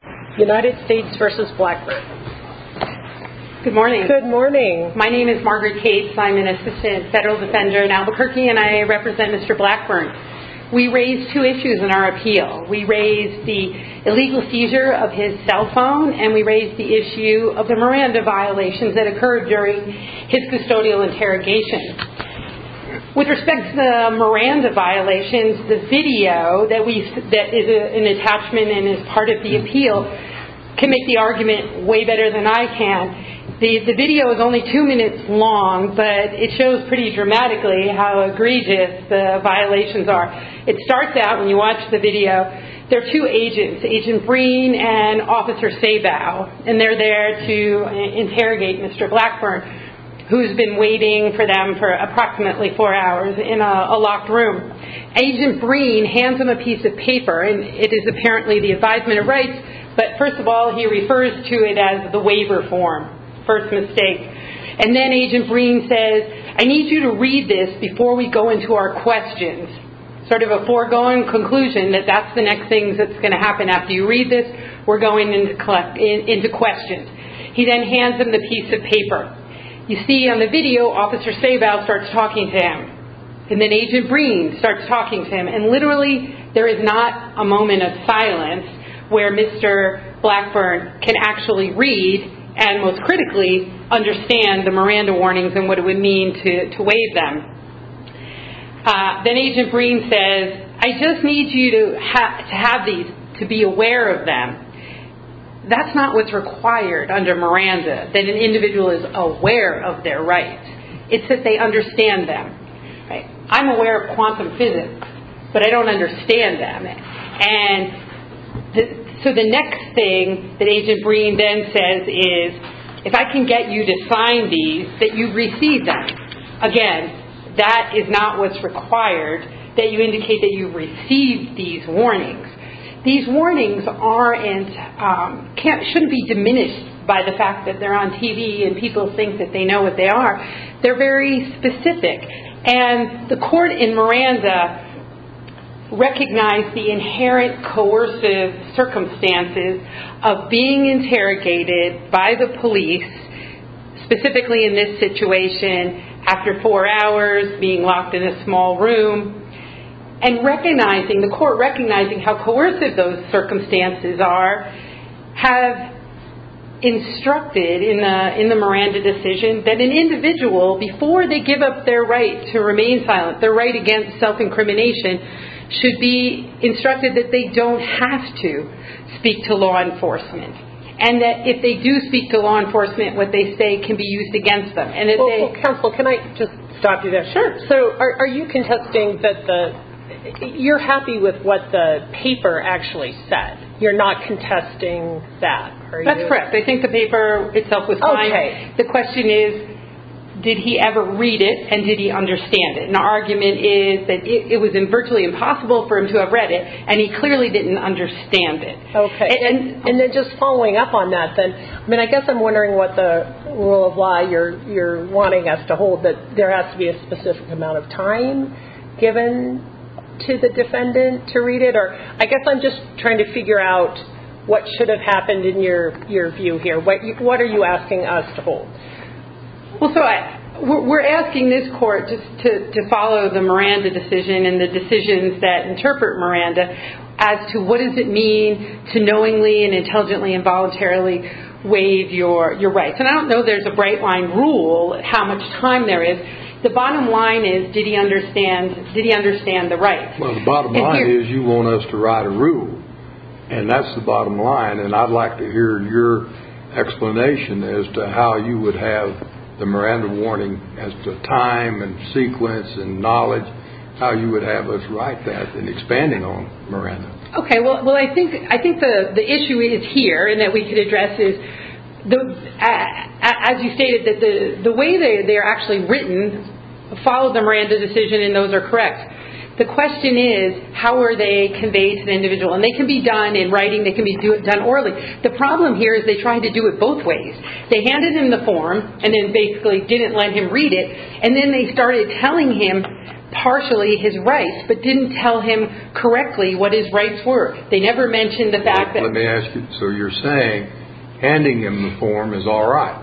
Good morning. My name is Margaret Cates. I'm an assistant federal defender in Albuquerque and I represent Mr. Blackburn. We raised two issues in our appeal. We raised the illegal seizure of his cell phone and we raised the issue of the Miranda violations that occurred during his custodial interrogation. With respect to the Miranda violations, the video that is an attachment and is part of the appeal can make the argument way better than I can. The video is only two minutes long, but it shows pretty dramatically how egregious the violations are. It starts out, when you watch the video, there are two agents, Agent Breen and Officer Sabow, and they're there to interrogate Mr. Blackburn, who's been waiting for them for approximately four hours in a locked room. Agent Breen hands him a piece of paper and it is apparently the advisement of rights, but first of all he refers to it as the waiver form, first mistake. And then Agent Breen says, I need you to read this before we go into our questions. Sort of a foregoing conclusion that that's the next thing that's going to happen after you read this, we're going into questions. He then hands him the piece of paper, Agent Sabow starts talking to him, and then Agent Breen starts talking to him, and literally there is not a moment of silence where Mr. Blackburn can actually read and most critically understand the Miranda warnings and what it would mean to waive them. Then Agent Breen says, I just need you to have these, to be aware of them. That's not what's required. I don't understand them. I'm aware of quantum physics, but I don't understand them. So the next thing that Agent Breen then says is, if I can get you to sign these, that you've received them. Again, that is not what's required, that you indicate that you've received these warnings. These warnings shouldn't be diminished by the fact that they're on TV and people think that they know what they are. They're very specific. The court in Miranda recognized the inherent coercive circumstances of being interrogated by the police, specifically in this situation, after four hours, being locked in a small room. The court, recognizing how coercive those circumstances are, have instructed in the Miranda decision that an individual, before they give up their right to remain silent, their right against self-incrimination, should be instructed that they don't have to speak to law enforcement, and that if they do speak to law enforcement, what they say can be used against them. So are you contesting that the, you're happy with what the paper actually said. You're not contesting that, are you? That's correct. I think the paper itself was fine. The question is, did he ever read it and did he understand it? And the argument is that it was virtually impossible for him to have read it, and he clearly didn't understand it. And then just following up on that then, I mean I guess I'm wondering what the rule of law you're wanting us to hold, that there has to be a specific amount of time given to the defendant to read it, or I guess I'm just trying to figure out what should have happened in your view here. What are you asking us to hold? Well, so we're asking this court to follow the Miranda decision and the decisions that to knowingly and intelligently and voluntarily waive your rights. And I don't know there's a bright line rule, how much time there is. The bottom line is, did he understand the rights? Well, the bottom line is you want us to write a rule, and that's the bottom line. And I'd like to hear your explanation as to how you would have the Miranda warning as to time and sequence and knowledge, how you would have us write that and expanding on Miranda. Okay, well I think the issue is here and that we could address is, as you stated, that the way they're actually written follows the Miranda decision and those are correct. The question is how are they conveyed to the individual? And they can be done in writing, they can be done orally. The problem here is they tried to do it both ways. They handed him the form and then basically didn't let him read it, and then they started telling him partially his rights, but didn't tell him correctly what his rights were. They never mentioned the fact that... Let me ask you, so you're saying handing him the form is all right?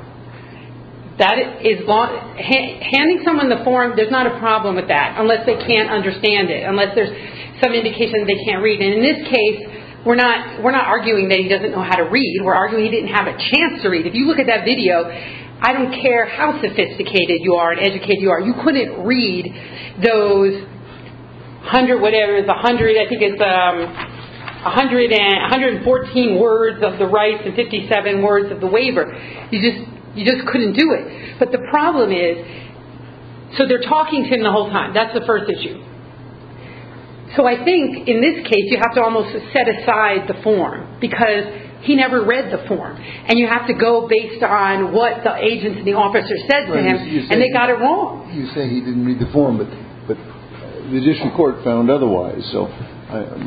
That is... handing someone the form, there's not a problem with that, unless they can't understand it, unless there's some indication that they can't read it. And in this case, we're not arguing that he doesn't know how to read. We're arguing he didn't have a chance to read. If you look at that video, I don't care how sophisticated you are and educated you are, you couldn't read those 100, whatever, I think it's 114 words of the rights and 57 words of the waiver. You just couldn't do it. But the problem is, so they're talking to him the whole time, that's the first issue. So I think in this case, you have to almost set aside the form, because he never read the form. And you have to go based on what the agent and the officer said to him, and they got it wrong. You say he didn't read the form, but the district court found otherwise. So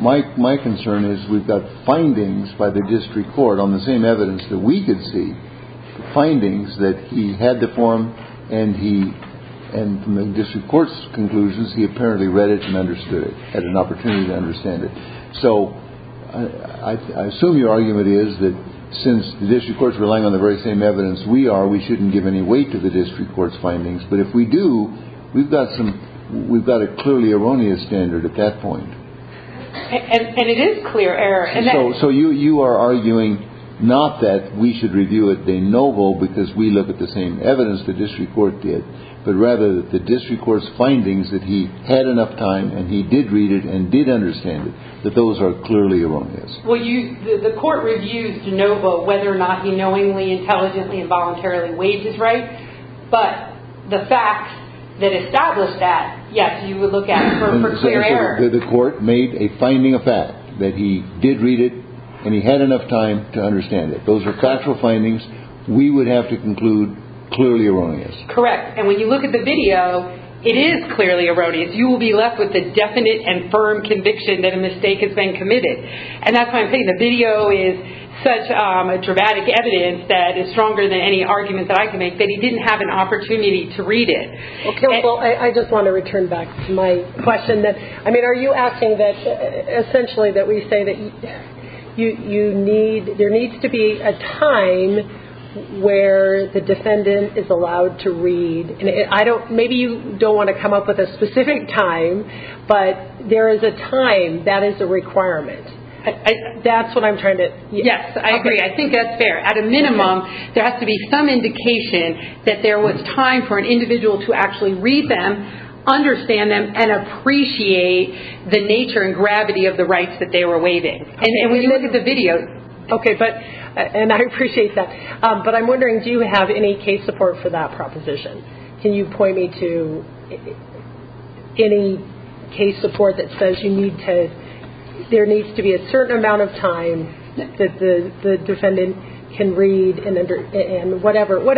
my concern is we've got findings by the district court on the same evidence that we could see, findings that he had the form, and from the district court's conclusions, he apparently read it and understood it, had an opportunity to understand it. So I assume your argument is that since the district court's relying on the very same evidence we are, we shouldn't give any weight to the district court's findings. But if we do, we've got some, we've got a clearly erroneous standard at that point. And it is clear error. So you are arguing not that we should review it de novo because we look at the same evidence the district court did, but rather the district court's findings that he had enough time and he did read it and did understand it, that those are clearly erroneous. Well, you, the court reviews de novo whether or not he knowingly, intelligently, and voluntarily weighed his rights, but the facts that establish that, yes, you would look at for clear error. The court made a finding of fact that he did read it and he had enough time to understand it. Those are factual findings we would have to conclude clearly erroneous. Correct. And when you look at the video, it is clearly erroneous. You will be left with That's why I'm saying the video is such a dramatic evidence that is stronger than any argument that I can make that he didn't have an opportunity to read it. Okay. Well, I just want to return back to my question that, I mean, are you asking that essentially that we say that you need, there needs to be a time where the defendant is allowed to read and I don't, maybe you don't want to come up with a specific time, but there is a time that is a requirement. That's what I'm trying to, yes. Yes, I agree. I think that's fair. At a minimum, there has to be some indication that there was time for an individual to actually read them, understand them, and appreciate the nature and gravity of the rights that they were waiving. Okay. And when you look at the video. Okay, but, and I appreciate that. But I'm wondering, do you have any case support for that proposition? Can you point me to any case support that says you need to, there needs to be a certain amount of time that the defendant can read and whatever. I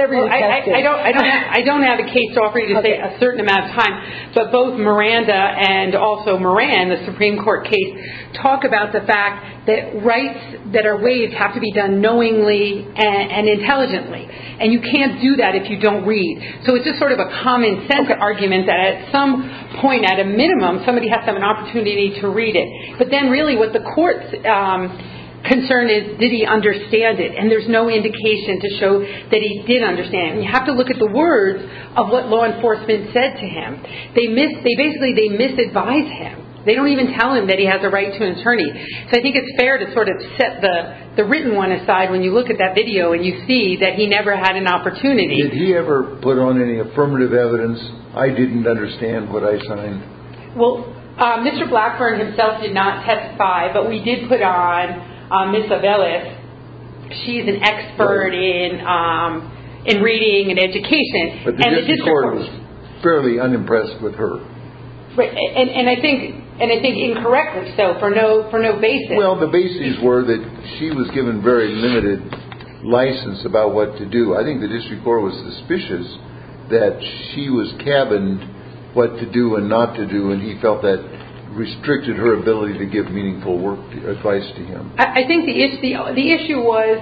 don't have a case to offer you to say a certain amount of time. But both Miranda and also Moran, the Supreme Court case, talk about the fact that rights that are waived have to be done knowingly and intelligently. And you can't do that if you don't read. So it's just sort of a common sense argument that at some point, at a minimum, somebody has to have an opportunity to read it. But then really, what the court's concern is, did he understand it? And there's no indication to show that he did understand it. And you have to look at the words of what law enforcement said to him. They miss, they basically, they misadvise him. They don't even tell him that he has a right to an attorney. So I think it's fair to sort of set the written one aside when you look at that video and you see that he never had an opportunity. Did he ever put on any affirmative evidence, I didn't understand what I signed? Well, Mr. Blackburn himself did not testify, but we did put on Ms. Avelis. She's an expert in reading and education. But the district court was fairly unimpressed with her. And I think incorrectly so, for no basis. Well, the basis were that she was given very limited license about what to do. I think the district court was suspicious that she was cabined what to do and not to do. And he felt that restricted her ability to give meaningful work advice to him. I think the issue was,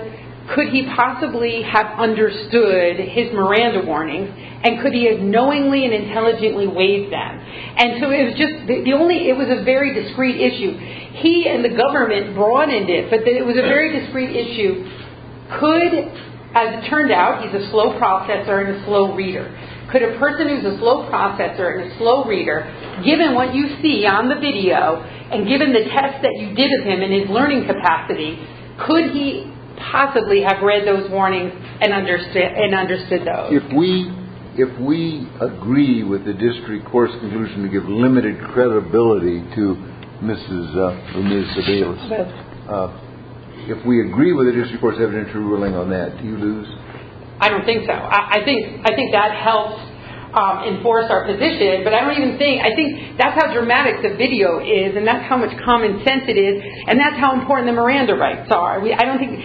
could he possibly have understood his Miranda warnings? And could he have knowingly and intelligently waived them? And so it was just, the only, it was a very discreet issue. He and the government broadened it, but it was a very discreet issue. Could, as it turned out, he's a slow processor and a slow reader. Could a person who's a slow processor and a slow reader, given what you see on the video and given the test that you did of him in his learning capacity, could he possibly have read those warnings and understood those? If we agree with the district court's conclusion to give limited credibility to Ms. Avelis, if we agree with the district court's evidentiary ruling on that, do you lose? I don't think so. I think that helps enforce our position, but I don't even think, I think that's how dramatic the video is and that's how much common sense it is and that's how important the Miranda rights are. I don't think,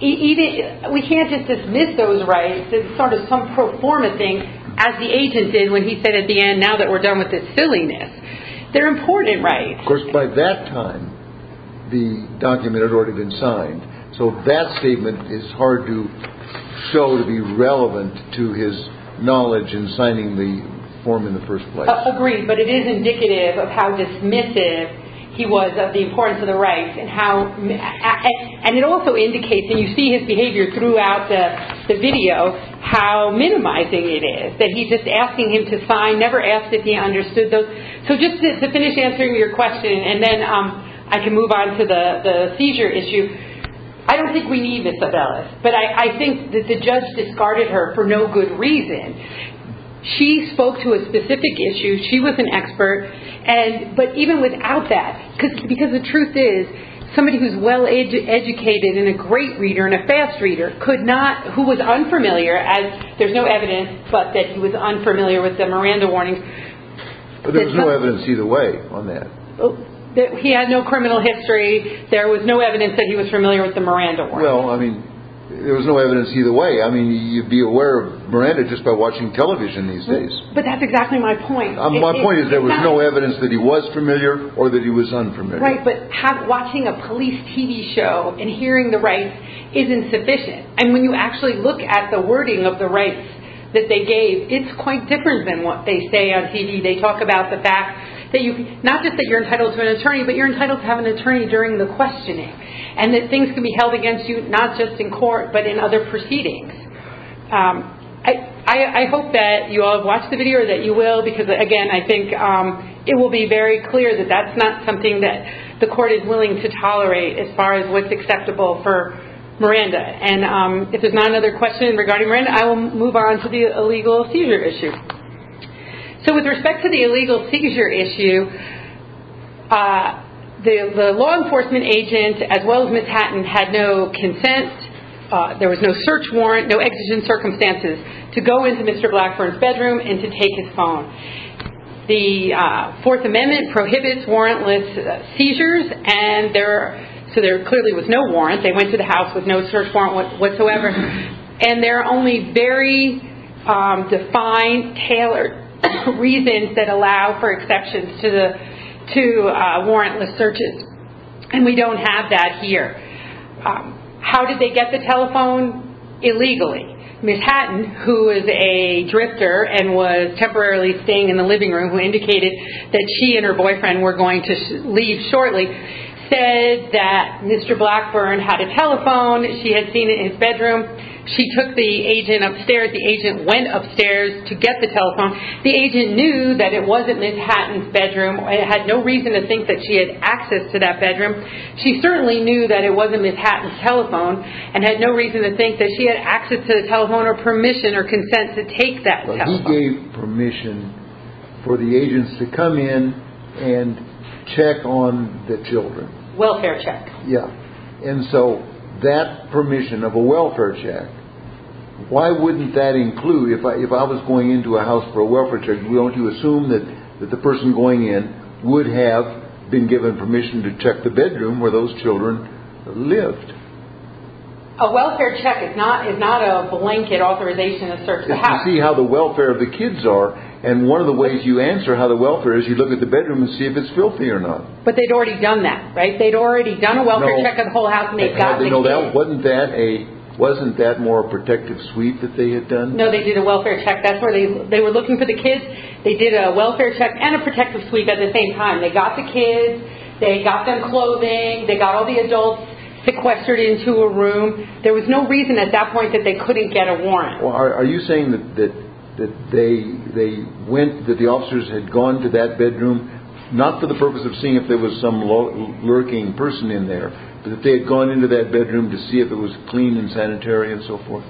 even, we can't just dismiss those rights as sort of some pro forma thing, as the agent did when he said at the end, now that we're done with this silliness. They're important rights. Of course, by that time, the document had already been signed, so that statement is hard to show to be relevant to his knowledge in signing the form in the first place. Agreed, but it is indicative of how dismissive he was of the importance of the rights and how, and it also indicates, and you see his behavior throughout the video, how minimizing it is that he's just asking him to sign, never asked if he understood those. So, just to finish answering your question, and then I can move on to the seizure issue. I don't think we need Miss Abella, but I think that the judge discarded her for no good reason. She spoke to a specific issue. She was an expert, but even without that, because the truth is, somebody who's well educated and a great reader and a fast reader could not, who was unfamiliar, as there's no evidence, but that he was unfamiliar with the Miranda warnings. There was no evidence either way on that. He had no criminal history. There was no evidence that he was familiar with the Miranda warnings. Well, I mean, there was no evidence either way. I mean, you'd be aware of Miranda just by watching television these days. But that's exactly my point. My point is there was no evidence that he was familiar or that he was unfamiliar. Right, but watching a police TV show and hearing the rights is insufficient, and when you actually look at the wording of the rights that they gave, it's quite different than what they say on TV. They talk about the fact that you, not just that you're entitled to an attorney, but you're entitled to have an attorney during the questioning and that things can be held against you not just in court but in other proceedings. I hope that you all have watched the video or that you will because, again, I think it will be very clear that that's not something that the court is willing to tolerate as far as what's acceptable for Miranda. If there's not another question regarding Miranda, I will move on to the illegal seizure issue. With respect to the illegal seizure issue, the law enforcement agent, as well as Ms. Hatton, had no consent, there was no search warrant, no exigent circumstances, to go into Mr. Blackburn's bedroom and to take his phone. The Fourth Amendment prohibits warrantless seizures, so there clearly was no warrant. They went to the house with no search warrant whatsoever. And there are only very defined, tailored reasons that allow for exceptions to warrantless searches. And we don't have that here. How did they get the telephone? Illegally. Ms. Hatton, who is a drifter and was temporarily staying in the living room who indicated that she and her boyfriend were going to leave shortly, said that Mr. Blackburn had a telephone. She had seen it in his bedroom. She took the agent upstairs. The agent went upstairs to get the telephone. The agent knew that it wasn't Ms. Hatton's bedroom and had no reason to think that she had access to that bedroom. She certainly knew that it wasn't Ms. Hatton's telephone and had no reason to think that she had access to the telephone or permission or consent to take that telephone. But he gave permission for the agents to come in and check on the children. Welfare check. Yeah. And so that permission of a welfare check, why wouldn't that include, if I was going into a house for a welfare check, don't you assume that the person going in would have been given permission to check the bedroom where those children lived? A welfare check is not a blanket authorization to search the house. It's to see how the welfare of the kids are. And one of the ways you answer how the welfare is, you look at the bedroom and see if it's filthy or not. But they'd already done that, right? They'd already done a welfare check of the whole house and they got the kids. Wasn't that more a protective sweep that they had done? No, they did a welfare check. They were looking for the kids. They did a welfare check and a protective sweep at the same time. They got the kids. They got them clothing. They got all the adults sequestered into a room. There was no reason at that point that they couldn't get a warrant. Are you saying that the officers had gone to that bedroom not for the purpose of seeing if there was some lurking person in there, but that they had gone into that bedroom to see if it was clean and sanitary and so forth?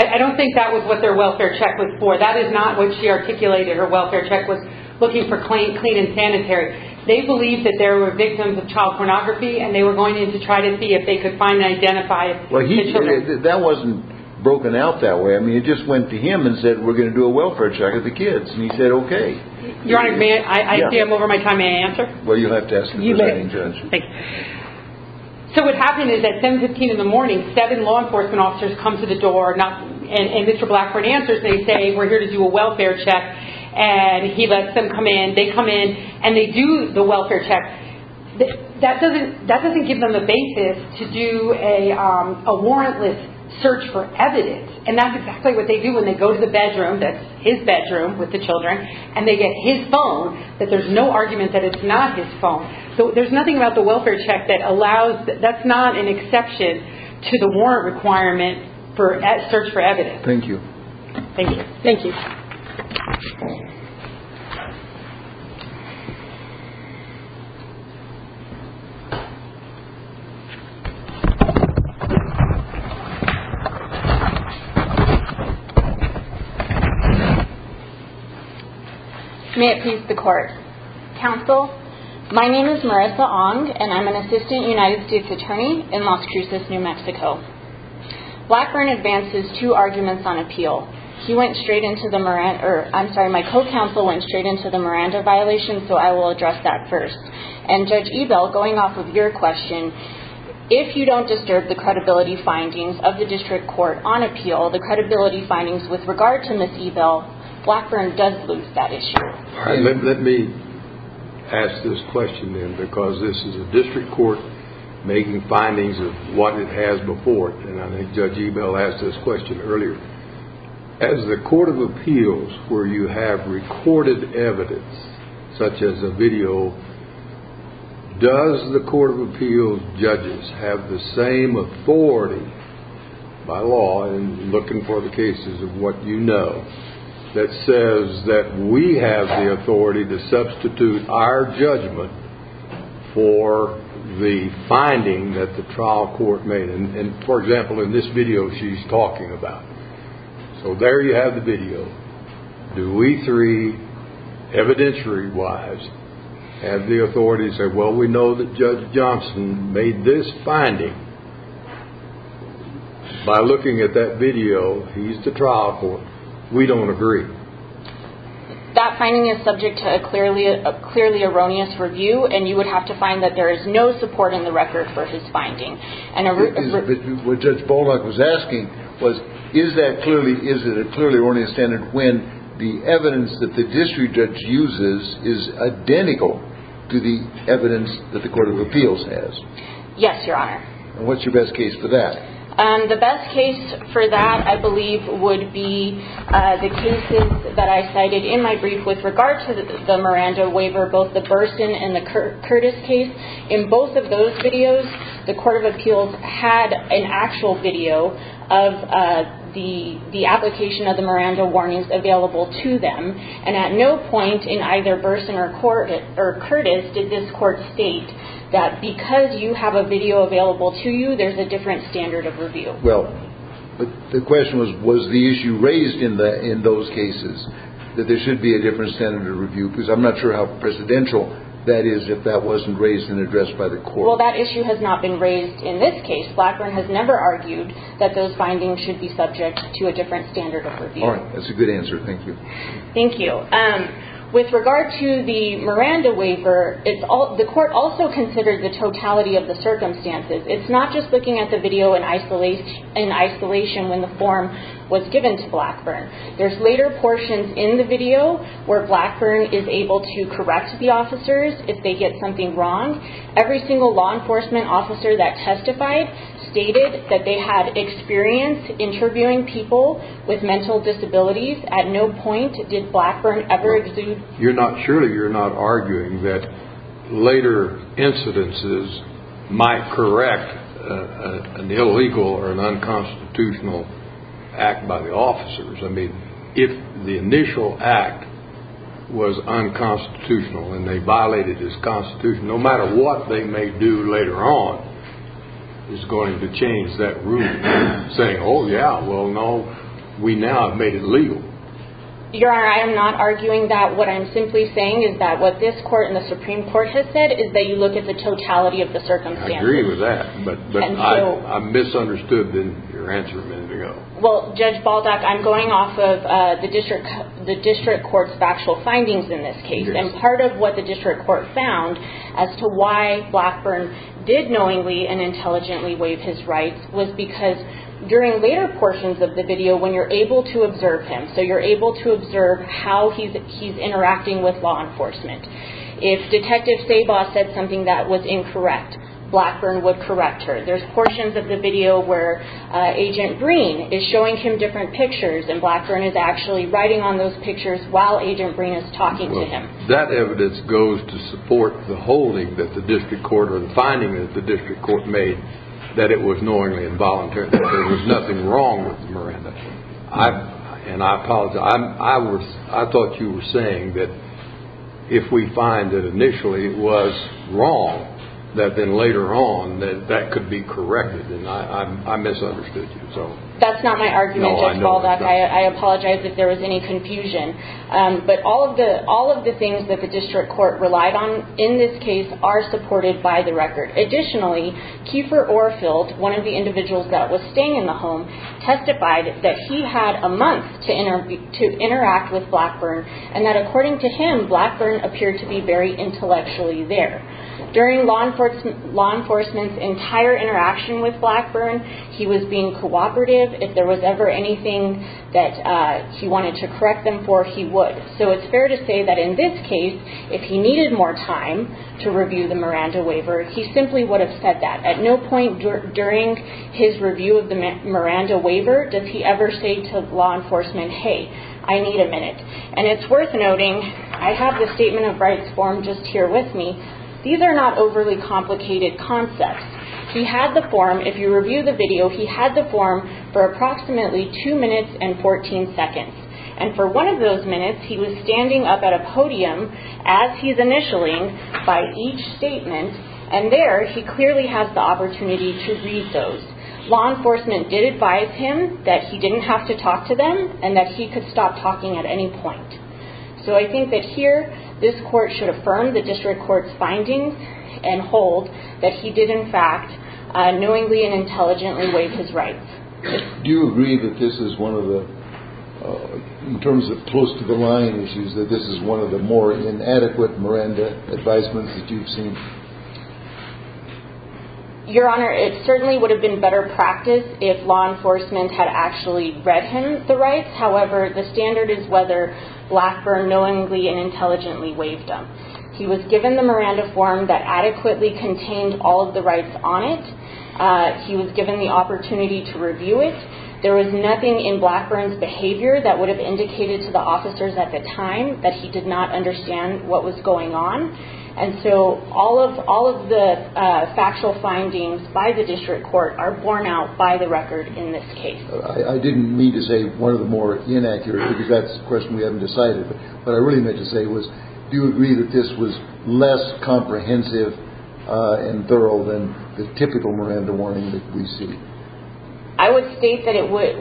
I don't think that was what their welfare check was for. That is not what she articulated. Her welfare check was looking for clean and sanitary. They believed that there were victims of child pornography and they were going in to try to see if they could find and identify the children. That wasn't broken out that way. It just went to him and said we're going to do a welfare check of the kids. He said okay. Your Honor, I see I'm over my time. May I answer? You'll have to ask the presiding judge. Thank you. What happened is at 7.15 in the morning, seven law enforcement officers come to the door and Mr. Blackford answers. They say we're here to do a welfare check. He lets them come in. They come in and they do the welfare check. That doesn't give them the basis to do a warrantless search for evidence. That's exactly what they do when they go to the bedroom, that's his bedroom with the children, and they get his phone that there's no argument that it's not his phone. There's nothing about the welfare check that allows, that's not an exception to the warrant requirement for search for evidence. Thank you. Thank you. Thank you. Thank you. May it please the Court. Counsel, my name is Marissa Ong, and I'm an assistant United States attorney in Las Cruces, New Mexico. Blackford advances two arguments on appeal. He went straight into the, I'm sorry, my co-counsel went straight into the Miranda violation, so I will address that first. And Judge Ebell, going off of your question, if you don't disturb the credibility findings of the district court on appeal, the credibility findings with regard to Ms. Ebell, Blackford does lose that issue. All right. Let me ask this question then, because this is a district court making findings of what it has before it, and I think Judge Ebell asked this question earlier. As the court of appeals, where you have recorded evidence such as a video, does the court of appeals judges have the same authority by law in looking for the cases of what you know that says that we have the authority to substitute our judgment for the finding that the trial court made? And, for example, in this video she's talking about. So there you have the video. Do we three, evidentiary-wise, have the authority to say, well, we know that Judge Johnson made this finding. By looking at that video, he's the trial court. We don't agree. That finding is subject to a clearly erroneous review, and you would have to find that there is no support in the record for his finding. What Judge Bullock was asking was, is it a clearly erroneous standard when the evidence that the district judge uses is identical to the evidence that the court of appeals has? Yes, Your Honor. And what's your best case for that? The best case for that, I believe, would be the cases that I cited in my brief with regard to the Miranda waiver, both the Burson and the Curtis case. In both of those videos, the court of appeals had an actual video of the application of the Miranda warnings available to them, and at no point in either Burson or Curtis did this court state that because you have a video available to you, there's a different standard of review. Well, the question was, was the issue raised in those cases, that there should be a different standard of review? Because I'm not sure how presidential that is if that wasn't raised and addressed by the court. Well, that issue has not been raised in this case. Blackburn has never argued that those findings should be subject to a different standard of review. All right, that's a good answer. Thank you. Thank you. With regard to the Miranda waiver, the court also considered the totality of the circumstances. It's not just looking at the video in isolation when the form was given to Blackburn. There's later portions in the video where Blackburn is able to correct the officers if they get something wrong. Every single law enforcement officer that testified stated that they had experience interviewing people with mental disabilities. At no point did Blackburn ever exude... Surely you're not arguing that later incidences might correct an illegal or an unconstitutional act by the officers. I mean, if the initial act was unconstitutional and they violated this constitution, no matter what they may do later on, it's going to change that rule. Saying, oh, yeah, well, no, we now have made it legal. Your Honor, I am not arguing that. What I'm simply saying is that what this court and the Supreme Court has said is that you look at the totality of the circumstances. I agree with that, but I misunderstood your answer a minute ago. Well, Judge Baldock, I'm going off of the district court's factual findings in this case. And part of what the district court found as to why Blackburn did knowingly and intelligently waive his rights was because during later portions of the video, when you're able to observe him, so you're able to observe how he's interacting with law enforcement, if Detective Sabaw said something that was incorrect, Blackburn would correct her. There's portions of the video where Agent Green is showing him different pictures and Blackburn is actually writing on those pictures while Agent Green is talking to him. Well, that evidence goes to support the holding that the district court or the finding that the district court made that it was knowingly and voluntarily. There was nothing wrong with Miranda. And I apologize. I thought you were saying that if we find that initially it was wrong, that then later on that that could be corrected, and I misunderstood you. That's not my argument, Judge Baldock. I apologize if there was any confusion. But all of the things that the district court relied on in this case are supported by the record. Additionally, Kiefer Orfield, one of the individuals that was staying in the home, testified that he had a month to interact with Blackburn and that according to him, Blackburn appeared to be very intellectually there. During law enforcement's entire interaction with Blackburn, he was being cooperative. If there was ever anything that he wanted to correct them for, he would. So it's fair to say that in this case, if he needed more time to review the Miranda waiver, he simply would have said that. At no point during his review of the Miranda waiver does he ever say to law enforcement, hey, I need a minute. And it's worth noting, I have the Statement of Rights form just here with me. These are not overly complicated concepts. He had the form. If you review the video, he had the form for approximately 2 minutes and 14 seconds. And for one of those minutes, he was standing up at a podium as he's initialing by each statement, and there he clearly has the opportunity to read those. Law enforcement did advise him that he didn't have to talk to them and that he could stop talking at any point. So I think that here this court should affirm the district court's findings and hold that he did, in fact, knowingly and intelligently waive his rights. Do you agree that this is one of the, in terms of close to the line issues, that this is one of the more inadequate Miranda advisements that you've seen? Your Honor, it certainly would have been better practice if law enforcement had actually read him the rights. However, the standard is whether Blackburn knowingly and intelligently waived them. He was given the Miranda form that adequately contained all of the rights on it. He was given the opportunity to review it. There was nothing in Blackburn's behavior that would have indicated to the officers at the time that he did not understand what was going on. And so all of the factual findings by the district court are borne out by the record in this case. I didn't mean to say one of the more inaccurate, because that's a question we haven't decided, but what I really meant to say was do you agree that this was less comprehensive and thorough than the typical Miranda warning that we see? I would state that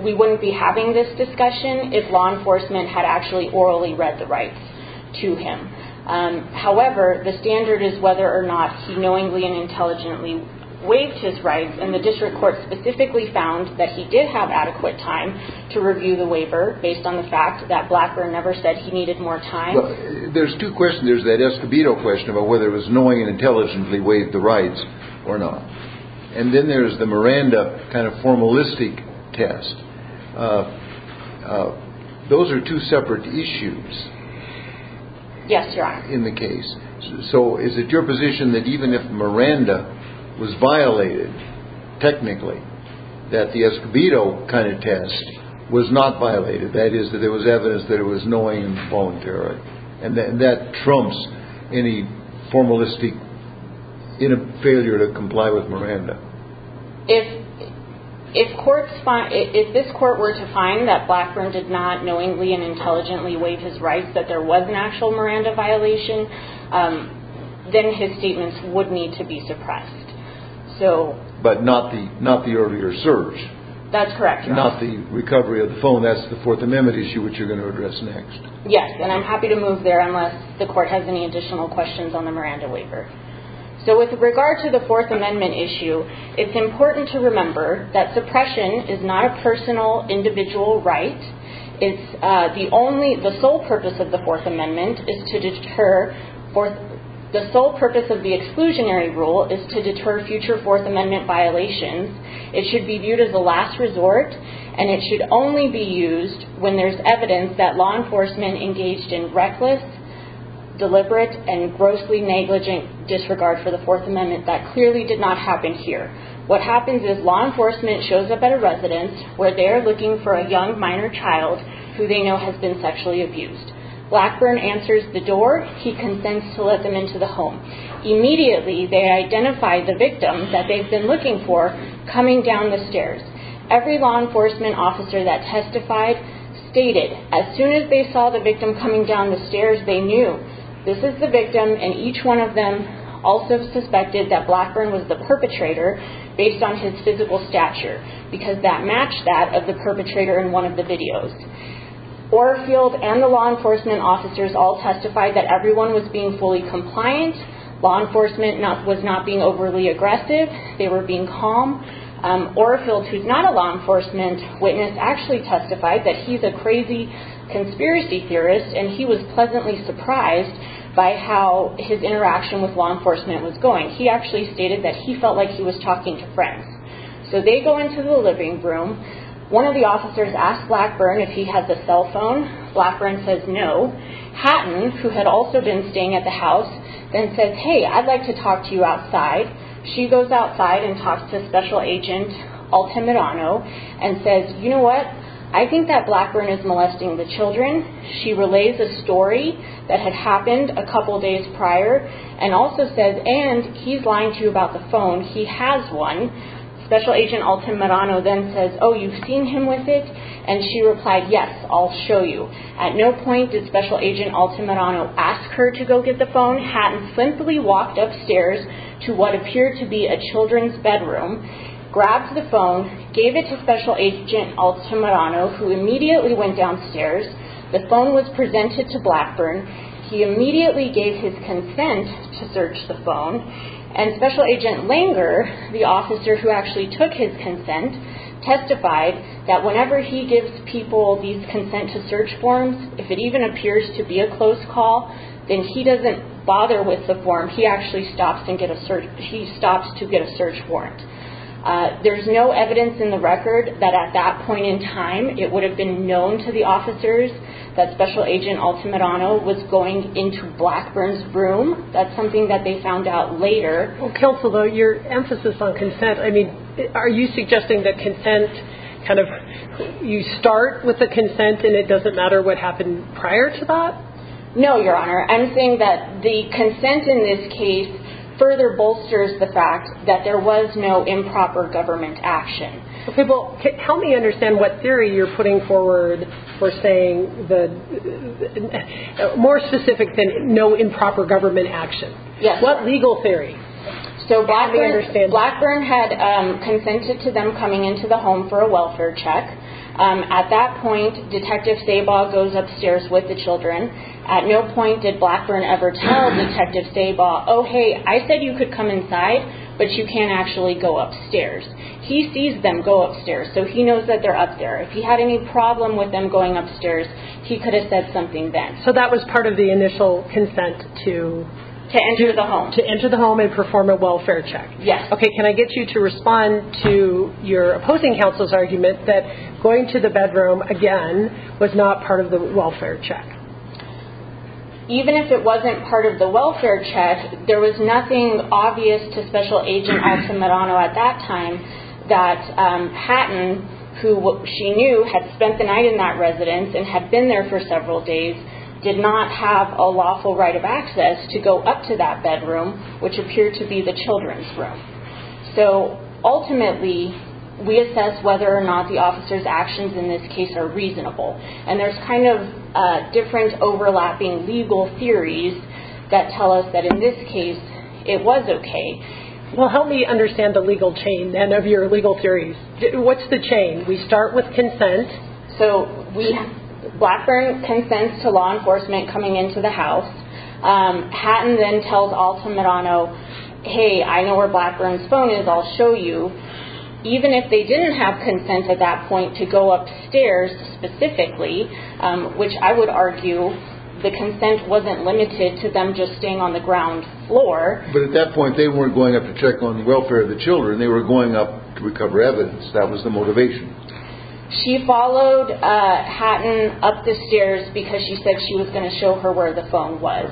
we wouldn't be having this discussion if law enforcement had actually orally read the rights to him. However, the standard is whether or not he knowingly and intelligently waived his rights, and the district court specifically found that he did have adequate time to review the waiver based on the fact that Blackburn never said he needed more time. There's two questions. There's that Escobedo question about whether it was knowingly and intelligently waived the rights or not. And then there's the Miranda kind of formalistic test. Those are two separate issues. Yes, Your Honor. In the case. So is it your position that even if Miranda was violated, technically, that the Escobedo kind of test was not violated, that is, that there was evidence that it was knowingly and voluntarily, and that trumps any formalistic failure to comply with Miranda? If this court were to find that Blackburn did not knowingly and intelligently waive his rights, that there was an actual Miranda violation, then his statements would need to be suppressed. But not the earlier search. That's correct, Your Honor. Not the recovery of the phone. That's the Fourth Amendment issue, which you're going to address next. Yes, and I'm happy to move there unless the court has any additional questions on the Miranda waiver. So with regard to the Fourth Amendment issue, it's important to remember that suppression is not a personal individual right. It's the only, the sole purpose of the Fourth Amendment is to deter, the sole purpose of the exclusionary rule is to deter future Fourth Amendment violations. It should be viewed as a last resort, and it should only be used when there's evidence that law enforcement engaged in reckless, deliberate, and grossly negligent disregard for the Fourth Amendment. That clearly did not happen here. What happens is law enforcement shows up at a residence where they're looking for a young minor child who they know has been sexually abused. Blackburn answers the door. He consents to let them into the home. Immediately, they identify the victim that they've been looking for coming down the stairs. Every law enforcement officer that testified stated, as soon as they saw the victim coming down the stairs, they knew this is the victim, and each one of them also suspected that Blackburn was the perpetrator based on his physical stature because that matched that of the perpetrator in one of the videos. Orfield and the law enforcement officers all testified that everyone was being fully compliant. Law enforcement was not being overly aggressive. They were being calm. Orfield, who's not a law enforcement witness, actually testified that he's a crazy conspiracy theorist, and he was pleasantly surprised by how his interaction with law enforcement was going. He actually stated that he felt like he was talking to friends. So they go into the living room. One of the officers asks Blackburn if he has a cell phone. Blackburn says no. Hatton, who had also been staying at the house, then says, hey, I'd like to talk to you outside. She goes outside and talks to Special Agent Altamirano and says, you know what? I think that Blackburn is molesting the children. She relays a story that had happened a couple days prior and also says, and he's lying to you about the phone. He has one. Special Agent Altamirano then says, oh, you've seen him with it? And she replied, yes, I'll show you. At no point did Special Agent Altamirano ask her to go get the phone. Blackburn and Hatton simply walked upstairs to what appeared to be a children's bedroom, grabbed the phone, gave it to Special Agent Altamirano, who immediately went downstairs. The phone was presented to Blackburn. He immediately gave his consent to search the phone, and Special Agent Langer, the officer who actually took his consent, testified that whenever he gives people these consent-to-search forms, if it even appears to be a close call, then he doesn't bother with the form. He actually stops to get a search warrant. There's no evidence in the record that at that point in time it would have been known to the officers that Special Agent Altamirano was going into Blackburn's room. That's something that they found out later. Well, Kelsey, though, your emphasis on consent, I mean, are you suggesting that consent kind of, you start with a consent and it doesn't matter what happened prior to that? No, Your Honor. I'm saying that the consent in this case further bolsters the fact that there was no improper government action. Help me understand what theory you're putting forward for saying the, more specific than no improper government action. What legal theory? So Blackburn had consented to them coming into the home for a welfare check. At that point, Detective Sabaw goes upstairs with the children. At no point did Blackburn ever tell Detective Sabaw, oh, hey, I said you could come inside, but you can't actually go upstairs. He sees them go upstairs, so he knows that they're up there. If he had any problem with them going upstairs, he could have said something then. So that was part of the initial consent to? To enter the home. To enter the home and perform a welfare check. Yes. Okay, can I get you to respond to your opposing counsel's argument that going to the bedroom, again, was not part of the welfare check? Even if it wasn't part of the welfare check, there was nothing obvious to Special Agent Axel Marano at that time that Patton, who she knew had spent the night in that residence and had been there for several days, did not have a lawful right of access to go up to that bedroom, which appeared to be the children's room. So ultimately, we assess whether or not the officer's actions in this case are reasonable. And there's kind of different overlapping legal theories that tell us that in this case, it was okay. Well, help me understand the legal chain then of your legal theories. What's the chain? We start with consent. So Blackburn consents to law enforcement coming into the house. Patton then tells Alta Marano, hey, I know where Blackburn's phone is, I'll show you. Even if they didn't have consent at that point to go upstairs specifically, which I would argue the consent wasn't limited to them just staying on the ground floor. But at that point, they weren't going up to check on the welfare of the children. They were going up to recover evidence. That was the motivation. She followed Patton up the stairs because she said she was going to show her where the phone was.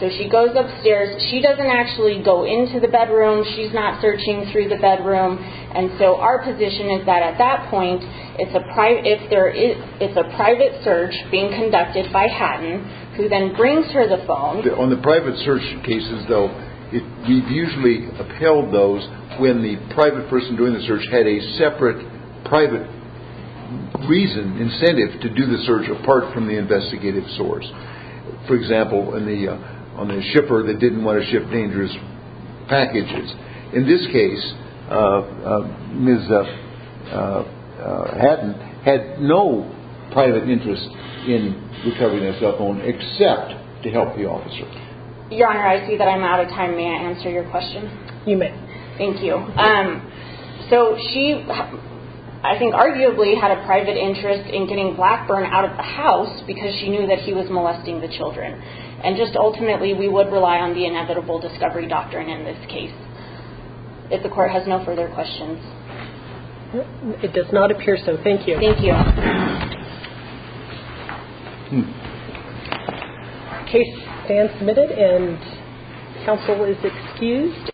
So she goes upstairs. She doesn't actually go into the bedroom. She's not searching through the bedroom. And so our position is that at that point, it's a private search being conducted by Patton, who then brings her the phone. On the private search cases, though, we've usually upheld those when the private person doing the search had a separate private reason, incentive to do the search apart from the investigative source. For example, on the shipper that didn't want to ship dangerous packages. In this case, Ms. Patton had no private interest in recovering that cell phone except to help the officer. Your Honor, I see that I'm out of time. May I answer your question? You may. Thank you. So she, I think, arguably had a private interest in getting Blackburn out of the house because she knew that he was molesting the children. And just ultimately, we would rely on the inevitable discovery doctrine in this case. If the court has no further questions. It does not appear so. Thank you. Thank you. Case is submitted and counsel is excused.